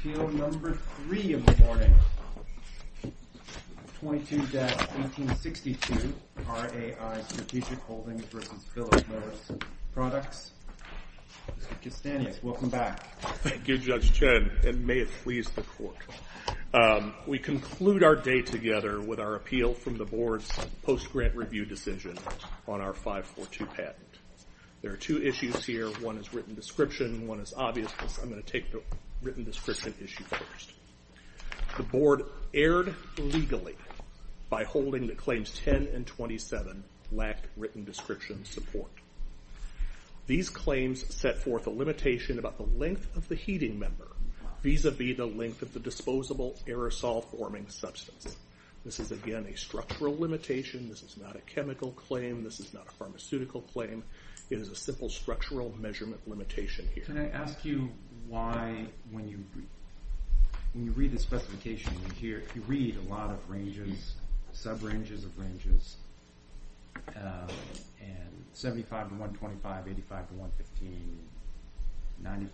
Appeal number three of the morning, 22-1862, RAI Strategic Holdings v. Philip Morris Products. Mr. Castanius, welcome back. Thank you, Judge Chen, and may it please the Court. We conclude our day together with our appeal from the Board's post-grant review decision on our 542 patent. There are two issues here. One is written description and one is obviousness. I'm going to take the written description issue first. The Board erred legally by holding that claims 10 and 27 lacked written description support. These claims set forth a limitation about the length of the heating member vis-à-vis the length of the disposable aerosol-forming substance. This is, again, a structural limitation. This is not a chemical claim. This is not a pharmaceutical claim. It is a simple structural measurement limitation here. Can I ask you why, when you read the specification in here, you read a lot of ranges, sub-ranges of ranges, 75-125, 85-115, 95-105,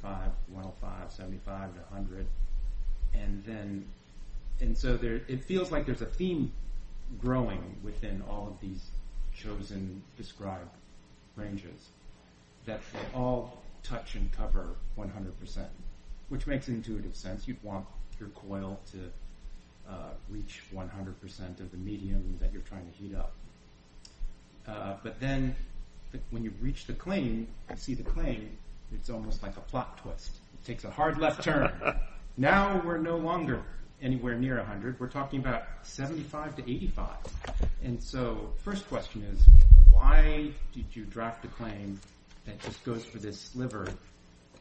75-100, and so it feels like there's a theme growing within all of these chosen, described ranges that all touch and cover 100%, which makes intuitive sense. You'd want your coil to reach 100% of the medium that you're trying to heat up. But then when you reach the claim, you see the claim, it's almost like a plot twist. It takes a hard left turn. Now we're no longer anywhere near 100. We're talking about 75-85. And so the first question is, why did you draft a claim that just goes for this sliver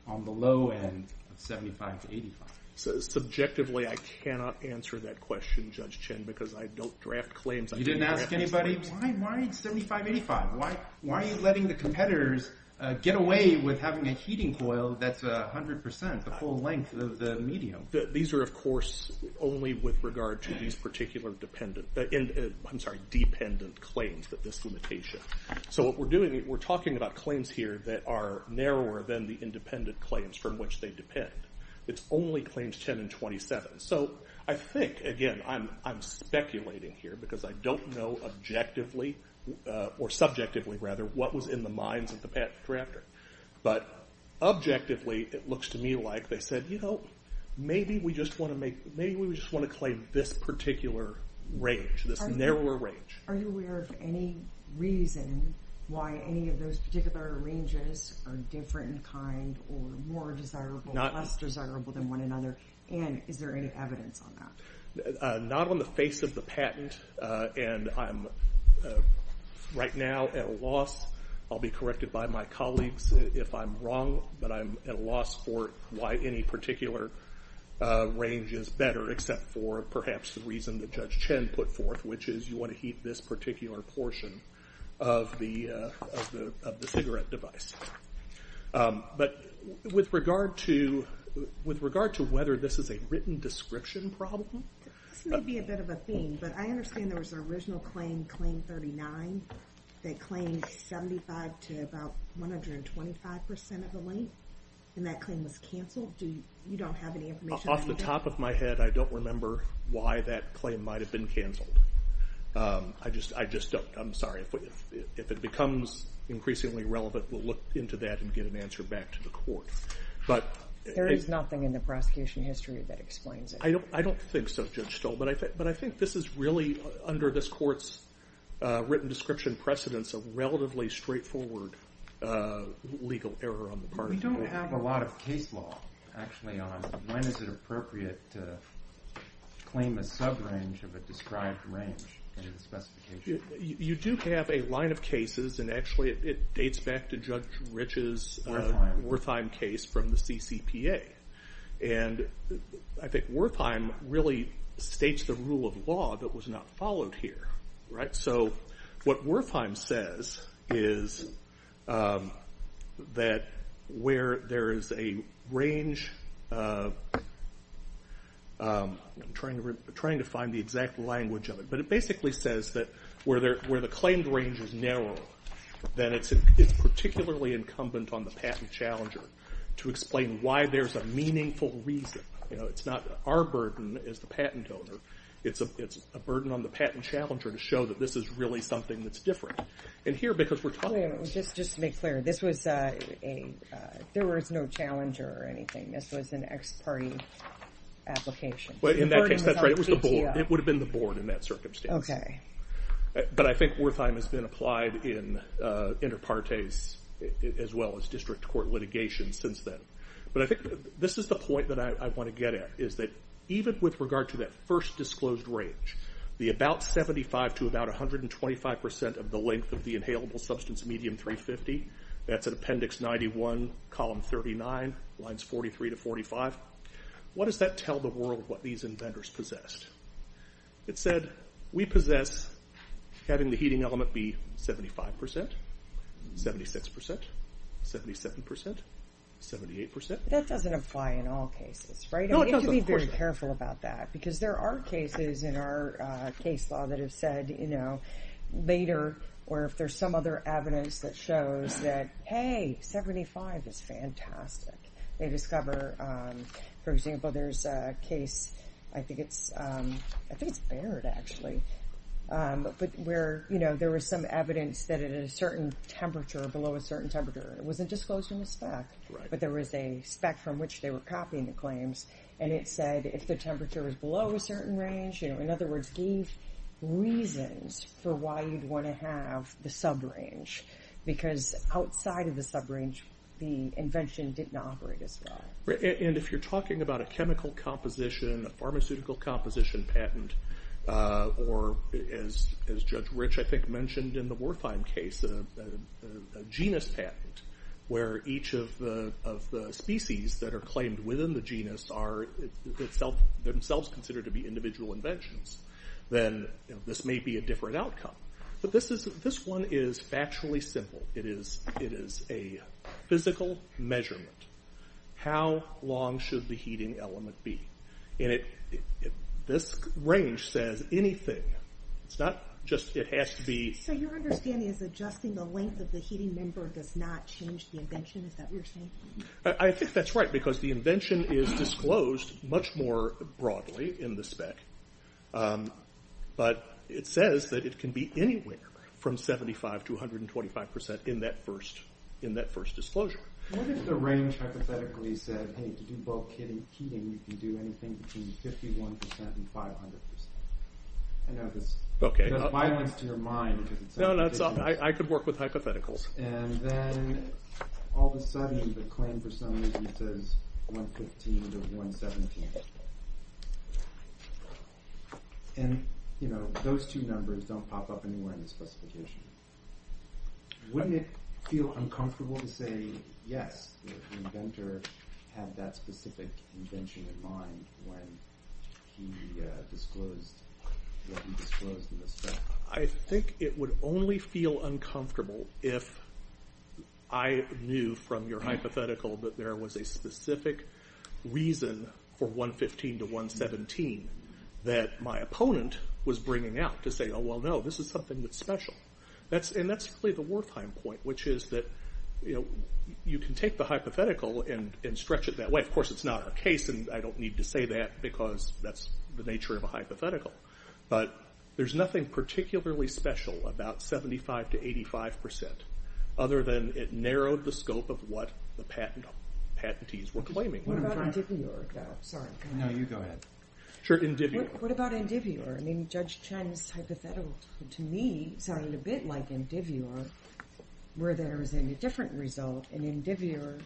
on the low end of 75-85? Subjectively, I cannot answer that question, Judge Chin, because I don't draft claims. You didn't ask anybody, why 75-85? Why are you letting the competitors get away with having a heating coil that's 100%, the full length of the medium? These are, of course, only with regard to these particular dependent, I'm sorry, dependent claims, but this limitation. So what we're doing, we're talking about claims here that are narrower than the independent claims from which they depend. It's only claims 10 and 27. So I think, again, I'm speculating here because I don't know objectively, or subjectively rather, what was in the minds of the drafter. But objectively, it looks to me like they said, maybe we just want to claim this particular range, this narrower range. Are you aware of any reason why any of those particular ranges are different in kind or more desirable or less desirable than one another? And is there any evidence on that? Not on the face of the patent, and I'm right now at a loss. I'll be corrected by my colleagues if I'm wrong, but I'm at a loss for why any particular range is better, except for perhaps the reason that Judge Chin put forth, which is you want to heat this particular portion of the cigarette device. But with regard to whether this is a written description problem. This may be a bit of a theme, but I understand there was an original claim, Claim 39, that claimed 75 to about 125% of the length, and that claim was canceled. You don't have any information on that? Off the top of my head, I don't remember why that claim might have been canceled. I just don't. I'm sorry. If it becomes increasingly relevant, we'll look into that and get an answer back to the court. There is nothing in the prosecution history that explains it. I don't think so, Judge Stoll, but I think this is really under this court's written description precedence a relatively straightforward legal error on the part of the court. We don't have a lot of case law, actually, on when is it appropriate to claim a sub-range of a described range into the specification. You do have a line of cases, and actually it dates back to Judge Rich's Wertheim case from the CCPA. And I think Wertheim really states the rule of law that was not followed here. So what Wertheim says is that where there is a range, I'm trying to find the exact language of it, but it basically says that where the claimed range is narrower, then it's particularly incumbent on the patent challenger to explain why there's a meaningful reason. It's not our burden as the patent owner. It's a burden on the patent challenger to show that this is really something that's different. And here, because we're talking about this. Just to make clear, there was no challenger or anything. This was an ex parte application. In that case, that's right. It would have been the board in that circumstance. But I think Wertheim has been applied in inter partes as well as district court litigation since then. But I think this is the point that I want to get at, is that even with regard to that first disclosed range, the about 75% to about 125% of the length of the inhalable substance medium 350, that's in Appendix 91, Column 39, Lines 43 to 45, what does that tell the world what these inventors possessed? It said, we possess having the heating element be 75%, 76%, 77%, 78%. That doesn't apply in all cases, right? No, it doesn't. We have to be very careful about that. Because there are cases in our case law that have said, later, or if there's some other evidence that shows that, hey, 75 is fantastic. They discover, for example, there's a case, I think it's Barrett, actually, where there was some evidence that at a certain temperature, below a certain temperature, it wasn't disclosed in the spec, but there was a spec from which they were copying the claims, and it said if the temperature was below a certain range, in other words, gave reasons for why you'd want to have the sub-range. Because outside of the sub-range, the invention didn't operate as well. And if you're talking about a chemical composition, a pharmaceutical composition patent, or as Judge Rich, I think, mentioned in the Wertheim case, a genus patent, where each of the species that are claimed within the genus are themselves considered to be individual inventions, then this may be a different outcome. But this one is factually simple. It is a physical measurement. How long should the heating element be? And this range says anything. It's not just, it has to be... So your understanding is adjusting the length of the heating member does not change the invention, is that what you're saying? I think that's right, because the invention is disclosed much more broadly in the spec, but it says that it can be anywhere from 75% to 125% in that first disclosure. What if the range hypothetically said, hey, to do bulk heating you can do anything between 51% and 500%? I know this does violence to your mind. No, no, I could work with hypotheticals. And then all of a sudden the claim for some reason says 115 to 117. And those two numbers don't pop up anywhere in the specification. Wouldn't it feel uncomfortable to say, yes, the inventor had that specific invention in mind when he disclosed what he disclosed in the spec? I think it would only feel uncomfortable if I knew from your hypothetical that there was a specific reason for 115 to 117 that my opponent was bringing out to say, oh, well, no, this is something that's special. And that's really the Wertheim point, which is that you can take the hypothetical and stretch it that way. Of course, it's not our case, and I don't need to say that because that's the nature of a hypothetical. But there's nothing particularly special about 75% to 85% other than it narrowed the scope of what the patentees were claiming. What about endiveor? Sorry. No, you go ahead. Sure, endiveor. What about endiveor? I mean, Judge Chen's hypothetical to me sounded a bit like endiveor where there was a different result. In endiveor,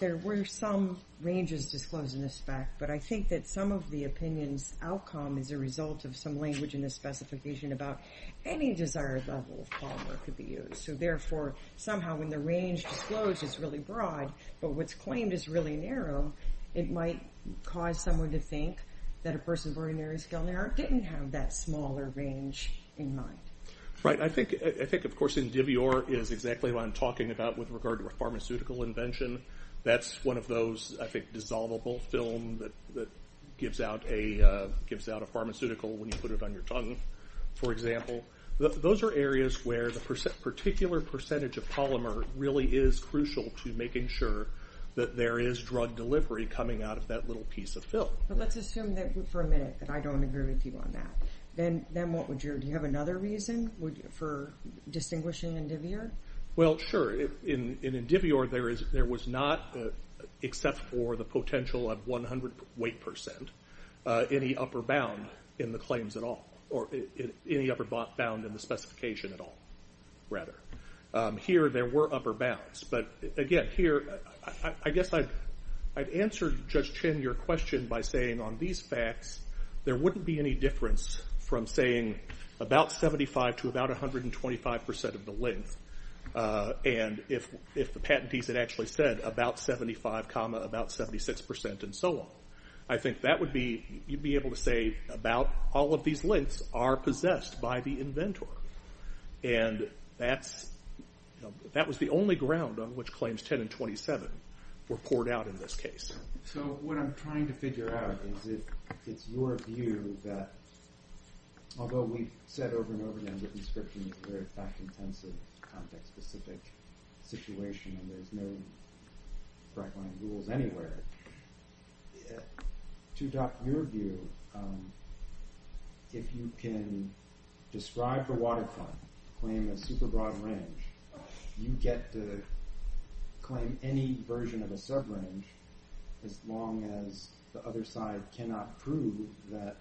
there were some ranges disclosed in the spec, but I think that some of the opinion's outcome is a result of some language in the specification about any desired level of polymer could be used. So, therefore, somehow when the range disclosed is really broad, but what's claimed is really narrow, it might cause someone to think that a person with a very narrow scale didn't have that smaller range in mind. Right. I think, of course, endiveor is exactly what I'm talking about with regard to a pharmaceutical invention. That's one of those, I think, dissolvable film that gives out a pharmaceutical when you put it on your tongue, for example. Those are areas where the particular percentage of polymer really is crucial to making sure that there is drug delivery coming out of that little piece of film. But let's assume for a minute that I don't agree with you on that. Then what would you do? Do you have another reason for distinguishing endiveor? Well, sure. In endiveor, there was not, except for the potential of 100 weight percent, any upper bound in the claims at all, or any upper bound in the specification at all, rather. Here, there were upper bounds. But again, here, I guess I'd answer Judge Chin your question by saying on these facts, there wouldn't be any difference from saying about 75 to about 125% of the length, and if the patentees had actually said about 75 comma about 76% and so on. I think that would be, you'd be able to say about all of these lengths are possessed by the inventor. And that was the only ground on which claims 10 and 27 were poured out in this case. So what I'm trying to figure out is it's your view that although we've said over and over again that inscription is a very fact-intensive, context-specific situation and there's no right-line rules anywhere, to your view, if you can describe the waterfront, claim a super-broad range, you get to claim any version of a sub-range as long as the other side cannot prove that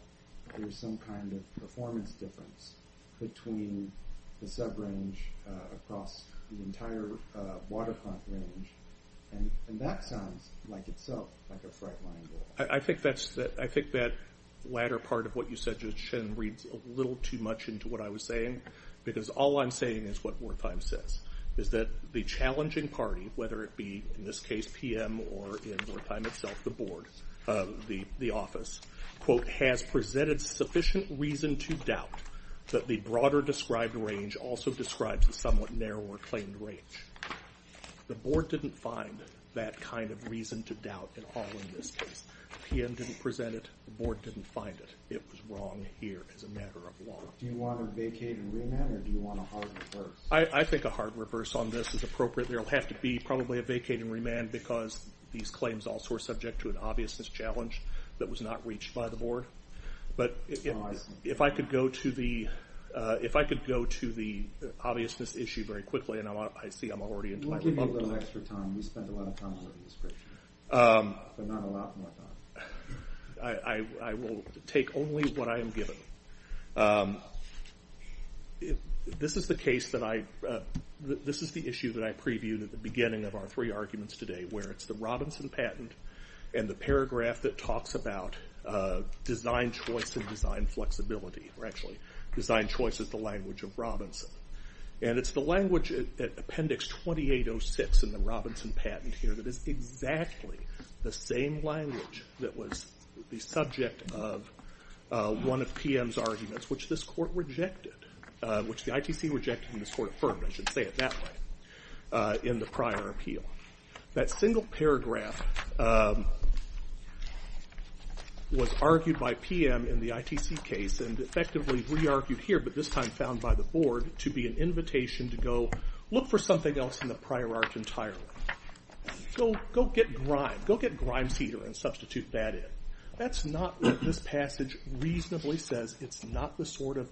there's some kind of performance difference between the sub-range across the entire waterfront range. And that sounds like itself like a right-line rule. I think that latter part of what you said, Judge Shinn, reads a little too much into what I was saying, because all I'm saying is what Wertheim says, is that the challenging party, whether it be in this case PM or in Wertheim itself, the board, the office, quote, has presented sufficient reason to doubt that the broader described range also describes the somewhat narrower claimed range. The board didn't find that kind of reason to doubt at all in this case. PM didn't present it, the board didn't find it. It was wrong here as a matter of law. Do you want a vacating remand or do you want a hard reverse? I think a hard reverse on this is appropriate. There'll have to be probably a vacating remand because these claims also are subject to an obviousness challenge that was not reached by the board. But if I could go to the obviousness issue very quickly, and I see I'm already into my rebuttal. We'll give you a little extra time. We spent a lot of time on the description, but not a lot more time. I will take only what I am given. This is the issue that I previewed at the beginning of our three arguments today, where it's the Robinson patent and the paragraph that talks about design choice and design flexibility, or actually design choice is the language of Robinson. And it's the language at appendix 2806 in the Robinson patent here that is exactly the same language that was the subject of one of PM's arguments, which this court rejected, which the ITC rejected and this court affirmed, I should say it that way, in the prior appeal. That single paragraph was argued by PM in the ITC case and effectively re-argued here, but this time found by the board, to be an invitation to go look for something else in the prior art entirely. Go get grime, go get grime seeder and substitute that in. That's not what this passage reasonably says. It's not the sort of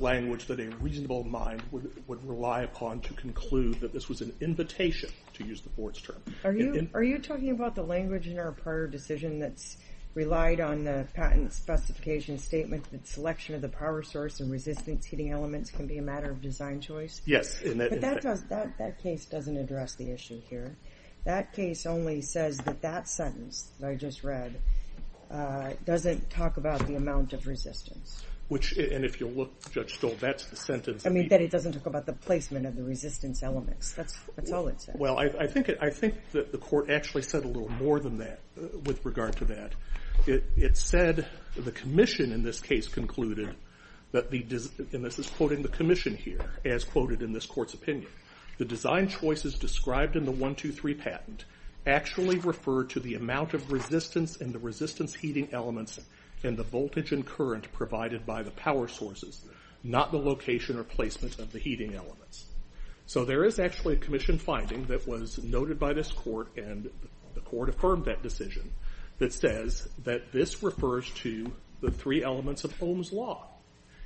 language that a reasonable mind would rely upon to conclude that this was an invitation, to use the board's term. Are you talking about the language in our prior decision that's relied on the patent specification statement that selection of the power source and resistance heating elements can be a matter of design choice? Yes. But that case doesn't address the issue here. That case only says that that sentence that I just read doesn't talk about the amount of resistance. And if you look, Judge Stoll, that's the sentence. I mean that it doesn't talk about the placement of the resistance elements. That's all it says. Well, I think that the court actually said a little more than that with regard to that. It said the commission in this case concluded that the, and this is quoting the commission here, as quoted in this court's opinion, the design choices described in the 123 patent actually refer to the amount of resistance and the resistance heating elements and the voltage and current provided by the power sources, not the location or placement of the heating elements. So there is actually a commission finding that was noted by this court and the court affirmed that decision that says that this refers to the three elements of Ohm's Law.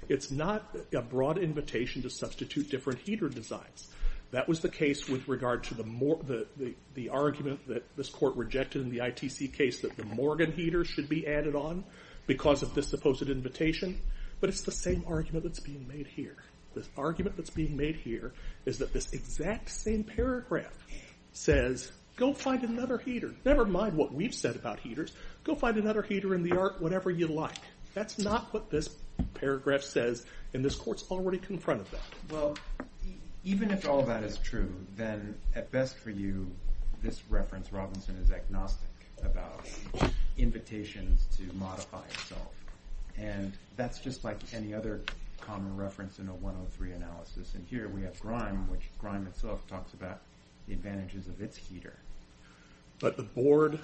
It's not a broad invitation to substitute different heater designs. That was the case with regard to the argument that this court rejected in the ITC case that the Morgan heater should be added on because of this supposed invitation, but it's the same argument that's being made here. The argument that's being made here is that this exact same paragraph says, go find another heater. Never mind what we've said about heaters. Go find another heater in the art, whatever you like. That's not what this paragraph says and this court's already confronted that. Well, even if all that is true, then at best for you this reference, Robinson, is agnostic about invitations to modify itself. And that's just like any other common reference in a 103 analysis. And here we have Grime, which Grime itself talks about the advantages of its heater. But the board...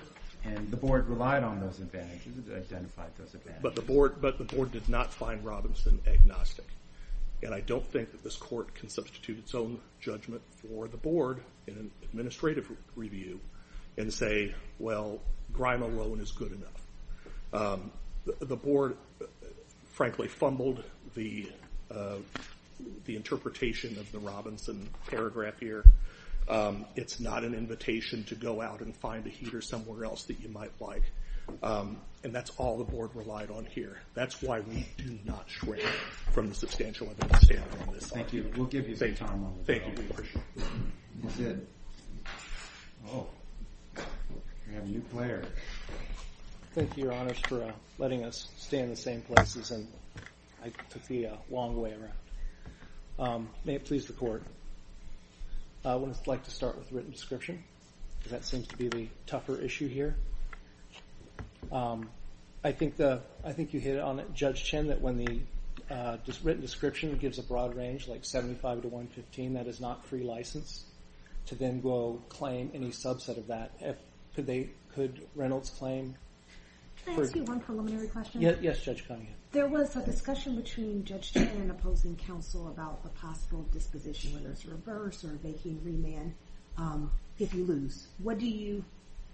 And the board relied on those advantages, identified those advantages. But the board did not find Robinson agnostic. And I don't think that this court can substitute its own judgment for the board in an administrative review and say, well, Grime alone is good enough. The board, frankly, fumbled the interpretation of the Robinson paragraph here. It's not an invitation to go out and find a heater somewhere else that you might like. And that's all the board relied on here. That's why we do not stray from the substantial evidence standard on this. Thank you. We'll give you some time on this. Thank you. We appreciate it. That's it. Oh, we have a new player. Thank you, Your Honors, for letting us stay in the same places. And I took the long way around. May it please the court. I would like to start with written description because that seems to be the tougher issue here. I think you hit it on it, Judge Chin, that when the written description gives a broad range, like 75 to 115, that is not free license to then go claim any subset of that. Could Reynolds claim... Can I ask you one preliminary question? Yes, Judge Cunningham. There was a discussion between Judge Chin and opposing counsel about the possible disposition, whether it's reverse or vacating remand if you lose. What do you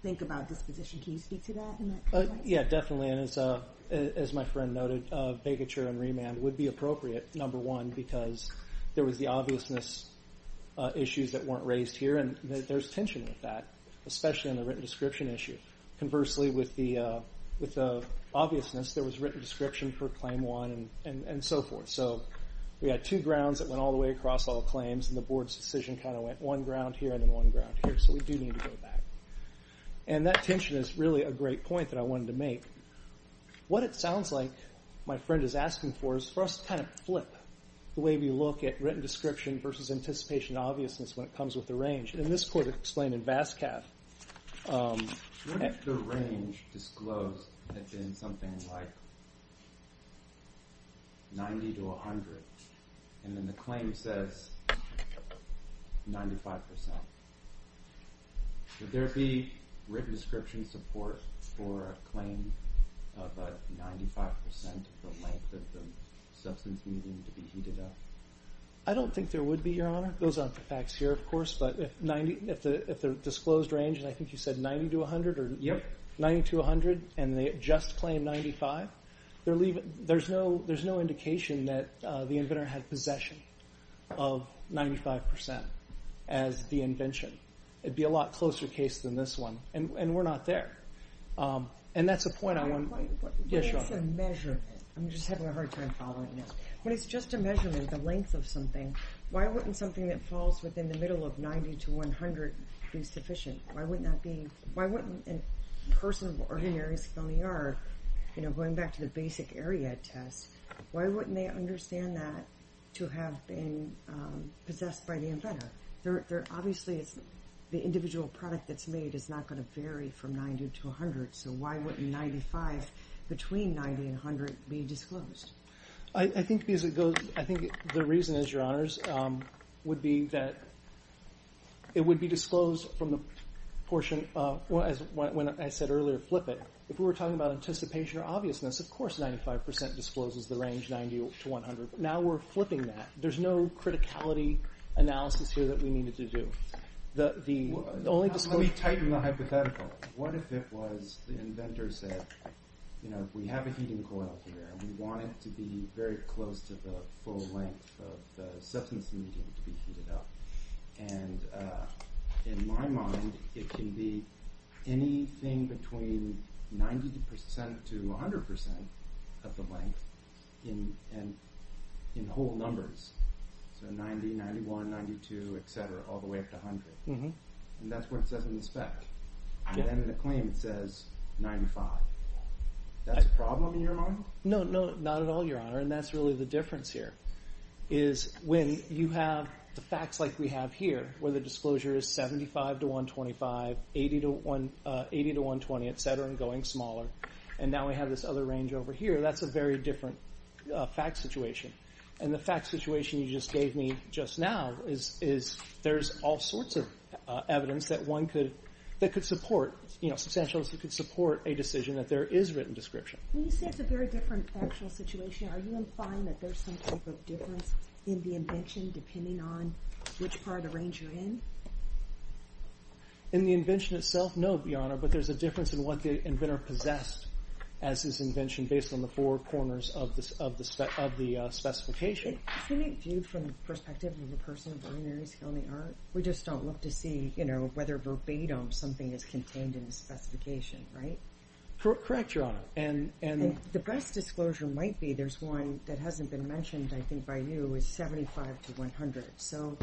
think about disposition? Can you speak to that in that context? Yeah, definitely. And as my friend noted, vacature and remand would be appropriate, number one, because there was the obviousness issues that weren't raised here. And there's tension with that, especially in the written description issue. Conversely, with the obviousness, there was written description for Claim 1 and so forth. So we had two grounds that went all the way across all claims, and the board's decision kind of went one ground here and then one ground here, so we do need to go back. And that tension is really a great point that I wanted to make. What it sounds like my friend is asking for is for us to kind of flip the way we look at written description versus anticipation and obviousness when it comes with the range. And this court explained in Vascav... What if the range disclosed had been something like 90 to 100, and then the claim says 95%? Would there be written description support for a claim of 95% of the length of the substance needed to be heated up? I don't think there would be, Your Honor. It goes on for facts here, of course. But if the disclosed range, and I think you said 90 to 100, and they just claim 95, there's no indication that the inventor had possession of 95% as the invention. It would be a lot closer case than this one. And we're not there. And that's the point I want... When it's a measurement... I'm just having a hard time following this. When it's just a measurement, the length of something, why wouldn't something that falls within the middle of 90 to 100 be sufficient? Why wouldn't a person of ordinary skill in the art, going back to the basic area test, why wouldn't they understand that to have been possessed by the inventor? Obviously, the individual product that's made is not going to vary from 90 to 100, so why wouldn't 95 between 90 and 100 be disclosed? I think the reason is, Your Honors, would be that it would be disclosed from the portion... When I said earlier, flip it, if we were talking about anticipation or obviousness, of course 95% discloses the range 90 to 100. Now we're flipping that. There's no criticality analysis here that we needed to do. The only disclosure... Let me tighten the hypothetical. What if it was the inventor said, We have a heating coil here. We want it to be very close to the full length of the substance needed to be heated up. In my mind, it can be anything between 90% to 100% of the length in whole numbers, so 90, 91, 92, etc., all the way up to 100. That's what it says in the spec. Then in the claim it says 95. That's a problem in your mind? No, no, not at all, Your Honor, and that's really the difference here. When you have the facts like we have here, where the disclosure is 75 to 125, 80 to 120, etc., and going smaller, and now we have this other range over here, that's a very different fact situation. The fact situation you just gave me just now is there's all sorts of evidence that substantialists could support a decision that there is written description. When you say it's a very different factual situation, are you implying that there's some type of difference in the invention depending on which part of the range you're in? In the invention itself, no, Your Honor, but there's a difference in what the inventor possessed as his invention based on the four corners of the specification. Isn't it viewed from the perspective of the person, we just don't look to see whether verbatim something is contained in the specification, right? Correct, Your Honor. The best disclosure might be there's one that hasn't been mentioned, I think by you, is 75 to 100. So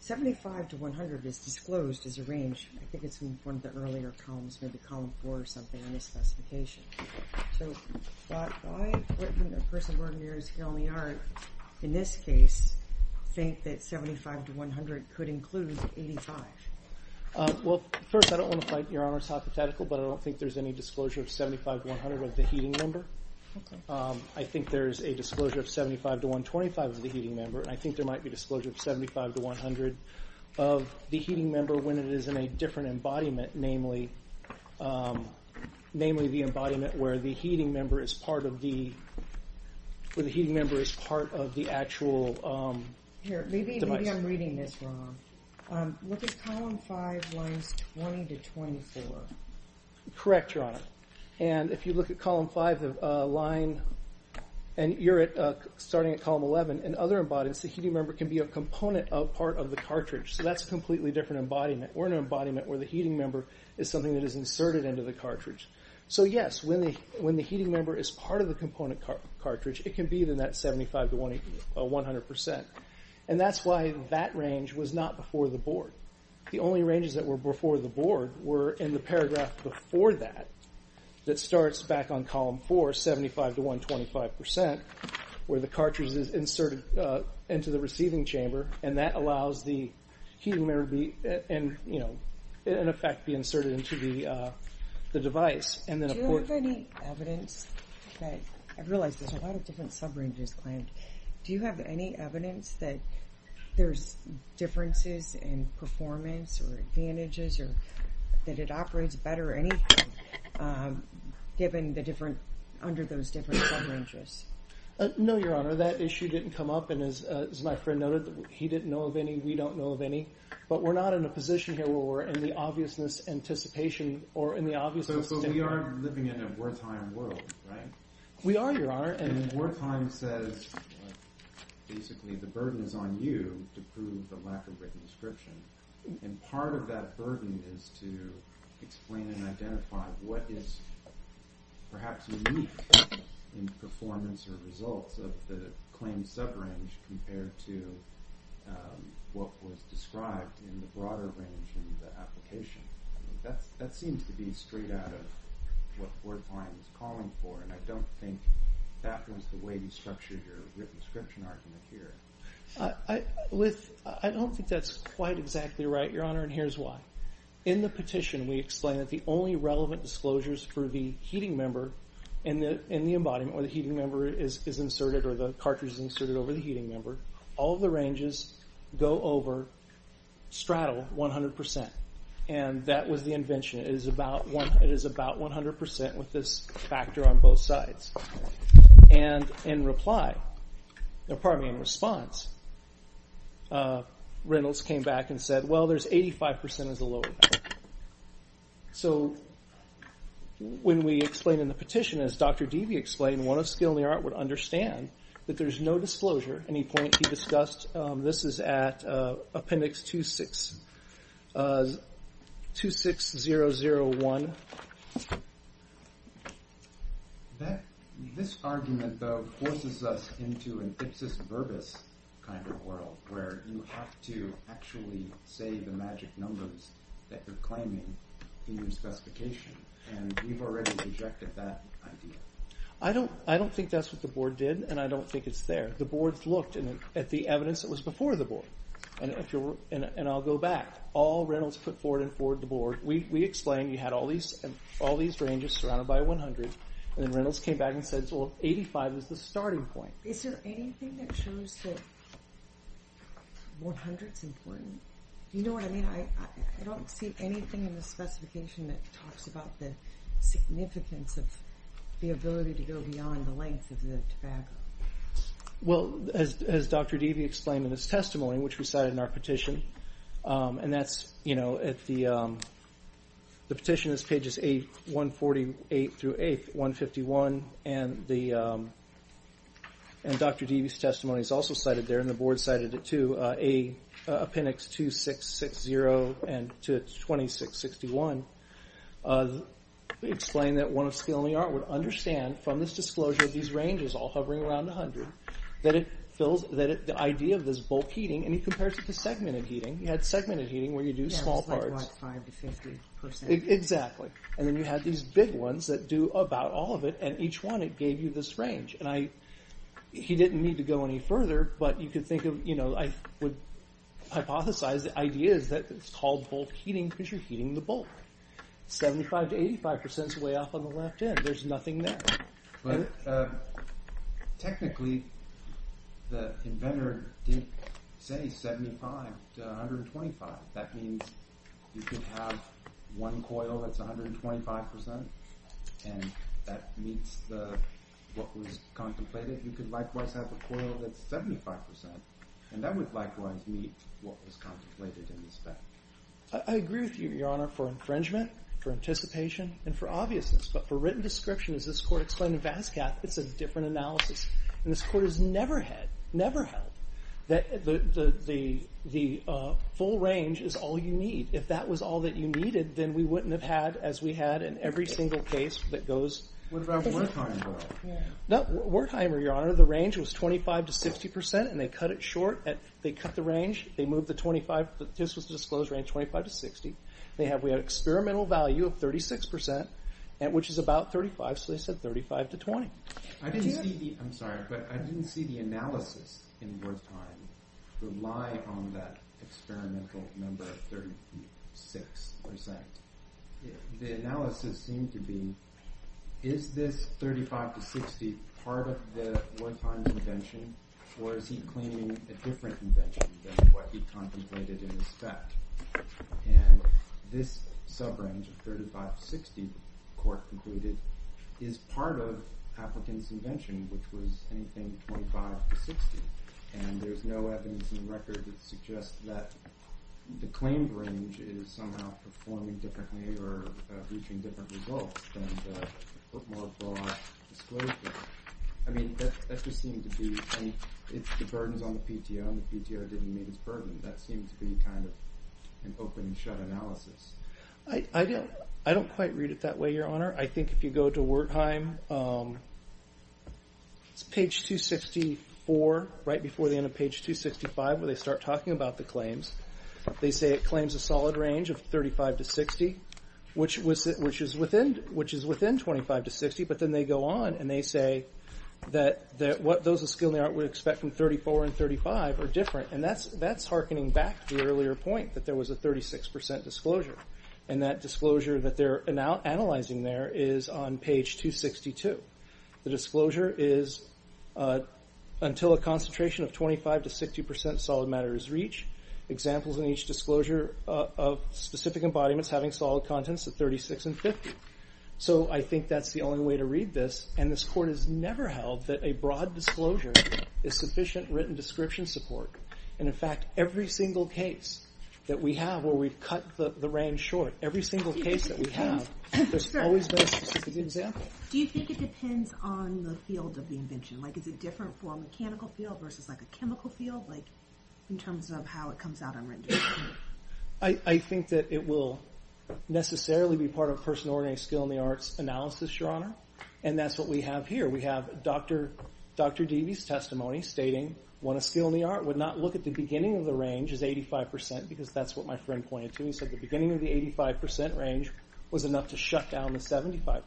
75 to 100 is disclosed as a range. I think it's in one of the earlier columns, maybe column 4 or something in the specification. But I, a person of ordinary skill in the art, in this case, think that 75 to 100 could include 85. Well, first, I don't want to fight Your Honor's hypothetical, but I don't think there's any disclosure of 75 to 100 of the heating member. I think there's a disclosure of 75 to 125 of the heating member, and I think there might be disclosure of 75 to 100 of the heating member when it is in a different embodiment, namely the embodiment where the heating member is part of the actual device. Here, maybe I'm reading this wrong. Look at column 5, lines 20 to 24. Correct, Your Honor. And if you look at column 5, the line, and you're starting at column 11, in other embodiments the heating member can be a component of part of the cartridge. So that's a completely different embodiment. We're in an embodiment where the heating member is something that is inserted into the cartridge. So, yes, when the heating member is part of the component cartridge, it can be in that 75 to 100%. And that's why that range was not before the board. The only ranges that were before the board were in the paragraph before that, that starts back on column 4, 75 to 125%, where the cartridge is inserted into the receiving chamber, and that allows the heating member to be, in effect, be inserted into the device. Do you have any evidence that, I realize there's a lot of different subranges claimed, do you have any evidence that there's differences in performance or advantages or that it operates better or anything under those different subranges? No, Your Honor. That issue didn't come up, and as my friend noted, he didn't know of any, we don't know of any. But we're not in a position here where we're in the obviousness, anticipation, or in the obviousness... But we are living in a Wertheim world, right? We are, Your Honor. And Wertheim says, basically, the burden is on you to prove the lack of written description. And part of that burden is to explain and identify what is perhaps unique in performance or results of the claimed subrange compared to what was described in the broader range in the application. That seems to be straight out of what Wertheim is calling for, and I don't think that was the way to structure your written description argument here. I don't think that's quite exactly right, Your Honor, and here's why. In the petition, we explain that the only relevant disclosures for the heating member in the embodiment, where the heating member is inserted, or the cartridge is inserted over the heating member, all of the ranges go over straddle 100%. And that was the invention. It is about 100% with this factor on both sides. And in reply, pardon me, in response, Reynolds came back and said, well, there's 85% as a lower value. So when we explain in the petition, as Dr. Dewey explained, one of skill in the art would understand that there's no disclosure. Any point he discussed, this is at appendix 26001. This argument, though, forces us into an ipsis verbis kind of world where you have to actually say the magic numbers that you're claiming in your specification, and we've already rejected that idea. I don't think that's what the Board did, and I don't think it's there. The Board's looked at the evidence that was before the Board, and I'll go back. All Reynolds put forward and forwarded the Board. We explained you had all these ranges surrounded by 100, and then Reynolds came back and said, well, 85 is the starting point. Is there anything that shows that 100's important? You know what I mean? I don't see anything in the specification that talks about the significance of the ability to go beyond the length of the tobacco. Well, as Dr. Dewey explained in his testimony, which we cited in our petition, and that's at the petition is pages 8, 148 through 8, 151, and Dr. Dewey's testimony is also cited there, and the Board cited it too, appendix 2660 to 2661. We explained that one of skill in the art would understand from this disclosure of these ranges, all hovering around 100, that the idea of this bulk heating, and he compares it to segmented heating. He had segmented heating where you do small parts. Yeah, it's like 5 to 50%. Exactly. And then you had these big ones that do about all of it, and each one, it gave you this range. He didn't need to go any further, but you could think of, you know, I would hypothesize the idea is that it's called bulk heating because you're heating the bulk. 75 to 85% is way off on the left end. There's nothing there. But technically, the inventor didn't say 75 to 125. That means you could have one coil that's 125%, and that meets what was contemplated. You could likewise have a coil that's 75%, and that would likewise meet what was contemplated in the spec. I agree with you, Your Honor, for infringement, for anticipation, and for obviousness. But for written description, as this court explained in Vasquez, it's a different analysis. And this court has never had, never held, that the full range is all you need. If that was all that you needed, then we wouldn't have had as we had in every single case that goes. What about Wertheimer? Wertheimer, Your Honor, the range was 25 to 60%, and they cut it short. They cut the range. They moved the 25. This was the disclosed range, 25 to 60. We had an experimental value of 36%, which is about 35, so they said 35 to 20. I'm sorry, but I didn't see the analysis in Wertheimer rely on that experimental number of 36%. The analysis seemed to be, is this 35 to 60 part of the Wertheimer invention, or is he claiming a different invention than what he contemplated in the spec? And this sub-range of 35 to 60, the court concluded, is part of Appleton's invention, which was anything 25 to 60. And there's no evidence in the record that suggests that the claimed range is somehow performing differently or reaching different results than the more broad disclosure. I mean, that just seemed to be, if the burden's on the PTO, and the PTO didn't meet its burden, that seems to be kind of an open-and-shut analysis. I don't quite read it that way, Your Honor. I think if you go to Wertheimer, it's page 264, right before the end of page 265, where they start talking about the claims. They say it claims a solid range of 35 to 60, which is within 25 to 60, but then they go on and they say that what those of skill in the art would expect from 34 and 35 are different, and that's hearkening back to the earlier point, that there was a 36% disclosure. And that disclosure that they're analyzing there is on page 262. The disclosure is, until a concentration of 25 to 60% solid matter is reached, examples in each disclosure of specific embodiments having solid contents of 36 and 50. So I think that's the only way to read this, and this Court has never held that a broad disclosure is sufficient written description support. And in fact, every single case that we have where we've cut the range short, every single case that we have, there's always been a specific example. Do you think it depends on the field of the invention? Like, is it different for a mechanical field versus, like, a chemical field, like, in terms of how it comes out on written description? I think that it will necessarily be part of personal ordinary skill in the arts analysis, Your Honor. And that's what we have here. We have Dr. Deavy's testimony stating when a skill in the art would not look at the beginning of the range as 85%, because that's what my friend pointed to. He said the beginning of the 85% range was enough to shut down the 75%.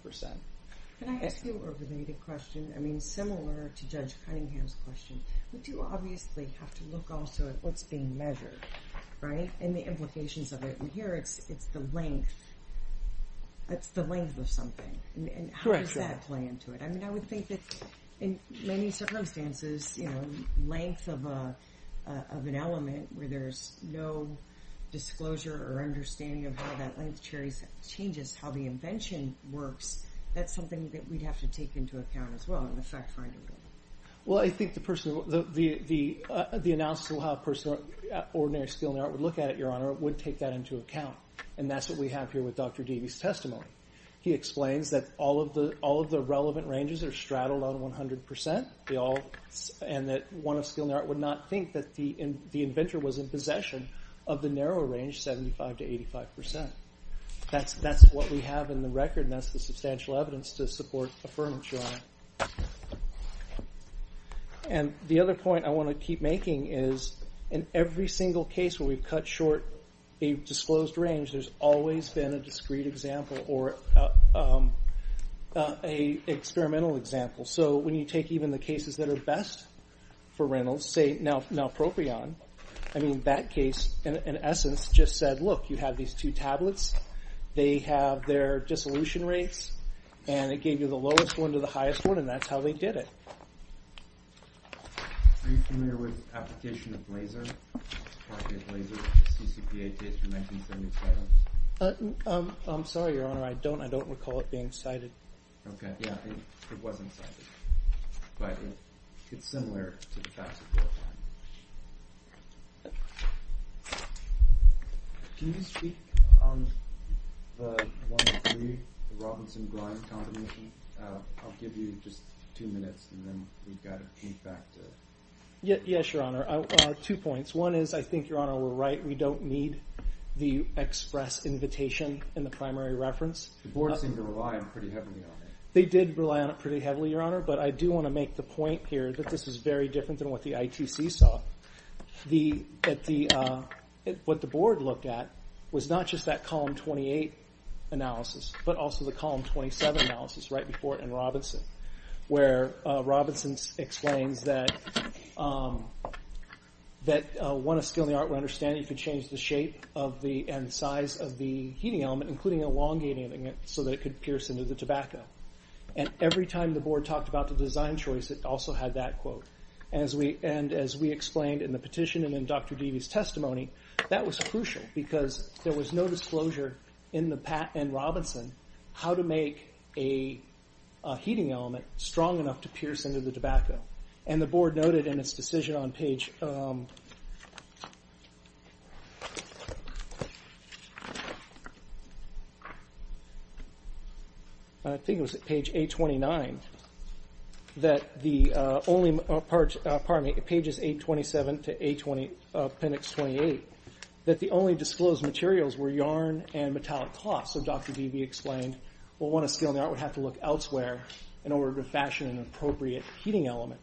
Can I ask you a related question? I mean, similar to Judge Cunningham's question. We do obviously have to look also at what's being measured, right? And the implications of it. And here it's the length. It's the length of something. And how does that play into it? I mean, I would think that in many circumstances, you know, length of an element where there's no disclosure or understanding of how that length changes how the invention works, that's something that we'd have to take into account as well in the fact-finding game. Well, I think the analysis of how ordinary skill in the art would look at it, Your Honor, would take that into account. And that's what we have here with Dr. Deavy's testimony. He explains that all of the relevant ranges are straddled on 100%, and that one of skill in the art would not think that the inventor was in possession of the narrower range, 75% to 85%. That's what we have in the record, and that's the substantial evidence to support affirmation. And the other point I want to keep making is in every single case where we've cut short a disclosed range, there's always been a discrete example or an experimental example. So when you take even the cases that are best for Reynolds, say, Nalpropion, I mean, that case, in essence, just said, look, you have these two tablets. They have their dissolution rates, and it gave you the lowest one to the highest one, and that's how they did it. Are you familiar with the application of laser? It's part of a laser CCPA case from 1977. I'm sorry, Your Honor, I don't recall it being cited. Okay, yeah, it wasn't cited. But it's similar to the facts of your time. Can you speak on the 1.3, the Robinson-Grimes combination? I'll give you just two minutes, and then we've got feedback to... Yes, Your Honor, two points. One is, I think, Your Honor, we're right. We don't need the express invitation in the primary reference. The board seemed to rely on it pretty heavily, though. They did rely on it pretty heavily, Your Honor, but I do want to make the point here that this is very different than what the ITC stated. What the board looked at was not just that Column 28 analysis, but also the Column 27 analysis right before it in Robinson, where Robinson explains that, one, a skill in the art of understanding could change the shape and size of the heating element, including elongating it so that it could pierce into the tobacco. And every time the board talked about the design choice, it also had that quote. And as we explained in the petition and in Dr. Deavy's testimony, that was crucial because there was no disclosure in the patent in Robinson how to make a heating element strong enough to pierce into the tobacco. And the board noted in its decision on page... I think it was at page 829 that the only... Pardon me, pages 827 to appendix 28, that the only disclosed materials were yarn and metallic cloth. So Dr. Deavy explained, well, one, a skill in the art would have to look elsewhere in order to fashion an appropriate heating element.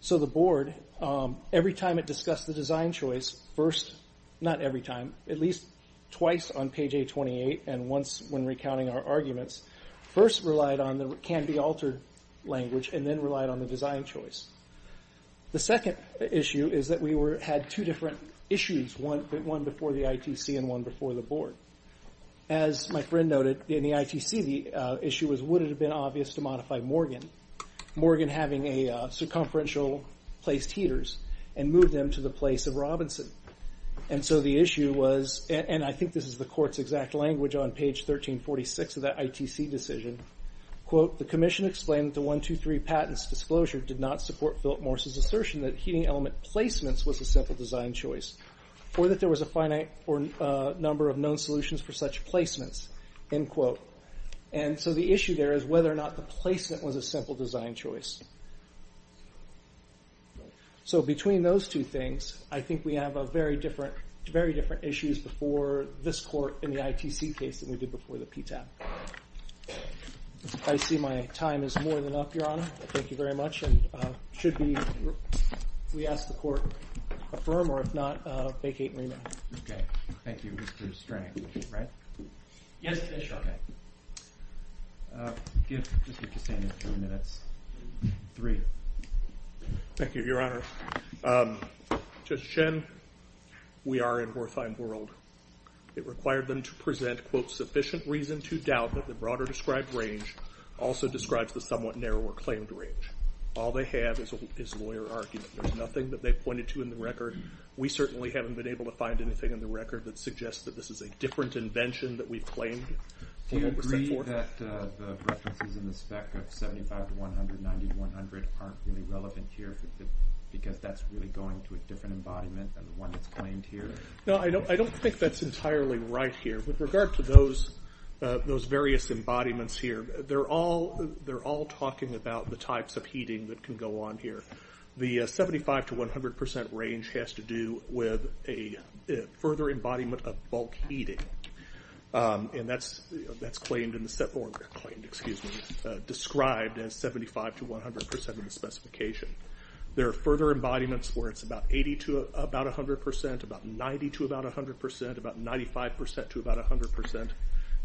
So the board, every time it discussed the design choice, first...not every time, at least twice on page 828 and once when recounting our arguments, first relied on the can-be-altered language and then relied on the design choice. The second issue is that we had two different issues, one before the ITC and one before the board. As my friend noted, in the ITC, the issue was would it have been obvious to modify Morgan, Morgan having a circumferential-placed heaters and move them to the place of Robinson. And so the issue was... And I think this is the court's exact language on page 1346 of that ITC decision. Quote, the commission explained that the 123 patents disclosure did not support Philip Morse's assertion that heating element placements was a simple design choice or that there was a finite number of known solutions for such placements, end quote. And so the issue there is whether or not the placement was a simple design choice. So between those two things, I think we have very different issues before this court in the ITC case than we did before the PTAB. I see my time is more than up, Your Honor. Thank you very much. And should we ask the court to affirm or if not, vacate and remain. Okay. Thank you, Mr. Strang. Right? Yes, Mr. O'Keefe. Give Mr. Cassano a few minutes. Three. Thank you, Your Honor. Judge Shen, we are in Horthine World. It required them to present, quote, sufficient reason to doubt that the broader described range also describes the somewhat narrower claimed range. All they have is lawyer argument. There's nothing that they pointed to in the record. We certainly haven't been able to find anything in the record that suggests that this is a different invention that we've claimed. Do you agree that the references in the spec of 75 to 100, 90 to 100, aren't really relevant here because that's really going to a different embodiment than the one that's claimed here? No, I don't think that's entirely right here. With regard to those various embodiments here, they're all talking about the types of heating that can go on here. The 75 to 100% range has to do with a further embodiment of bulk heating. And that's claimed in the set... There are further embodiments where it's about 80 to about 100%, about 90 to about 100%, about 95% to about 100%.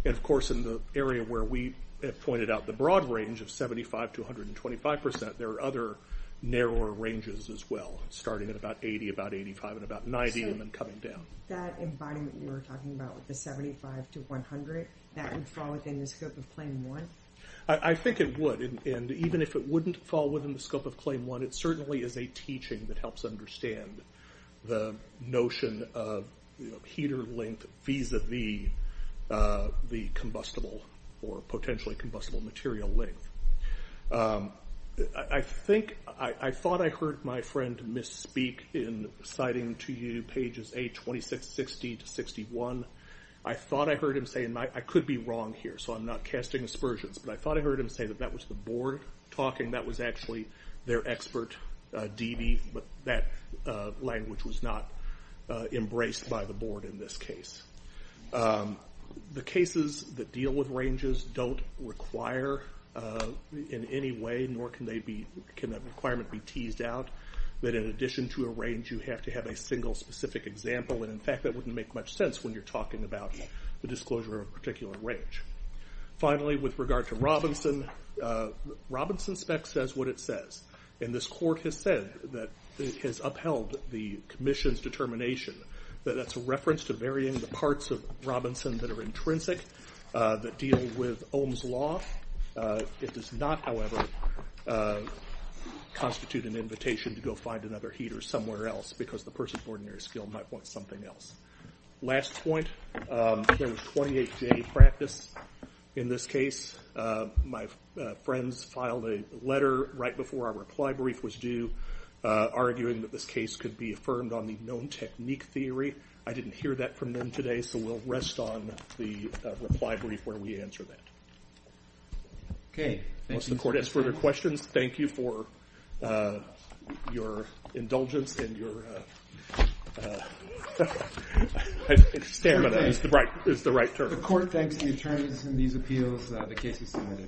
And, of course, in the area where we pointed out the broad range of 75 to 125%, there are other narrower ranges as well, starting at about 80, about 85, and about 90, and then coming down. So that embodiment you were talking about with the 75 to 100, that would fall within the scope of claim one? I think it would. And even if it wouldn't fall within the scope of claim one, it certainly is a teaching that helps understand the notion of heater length vis-a-vis the combustible or potentially combustible material length. I thought I heard my friend misspeak in citing to you pages 8, 26, 60, to 61. I thought I heard him say, and I could be wrong here, so I'm not casting aspersions, but I thought I heard him say that that was the board talking. That was actually their expert, D.D., but that language was not embraced by the board in this case. The cases that deal with ranges don't require in any way, nor can that requirement be teased out, that in addition to a range, you have to have a single specific example. And, in fact, that wouldn't make much sense when you're talking about the disclosure of a particular range. Finally, with regard to Robinson, Robinson spec says what it says, and this court has said that it has upheld the commission's determination that that's a reference to varying the parts of Robinson that are intrinsic, that deal with Ohm's Law. It does not, however, constitute an invitation to go find another heater somewhere else because the person's ordinary skill might want something else. Last point, there was 28-day practice in this case. My friends filed a letter right before our reply brief was due arguing that this case could be affirmed on the known technique theory. I didn't hear that from them today, so we'll rest on the reply brief where we answer that. Okay, thank you. Unless the court has further questions, thank you for your indulgence and your stamina is the right term. The court thanks the attorneys in these appeals. The case is submitted.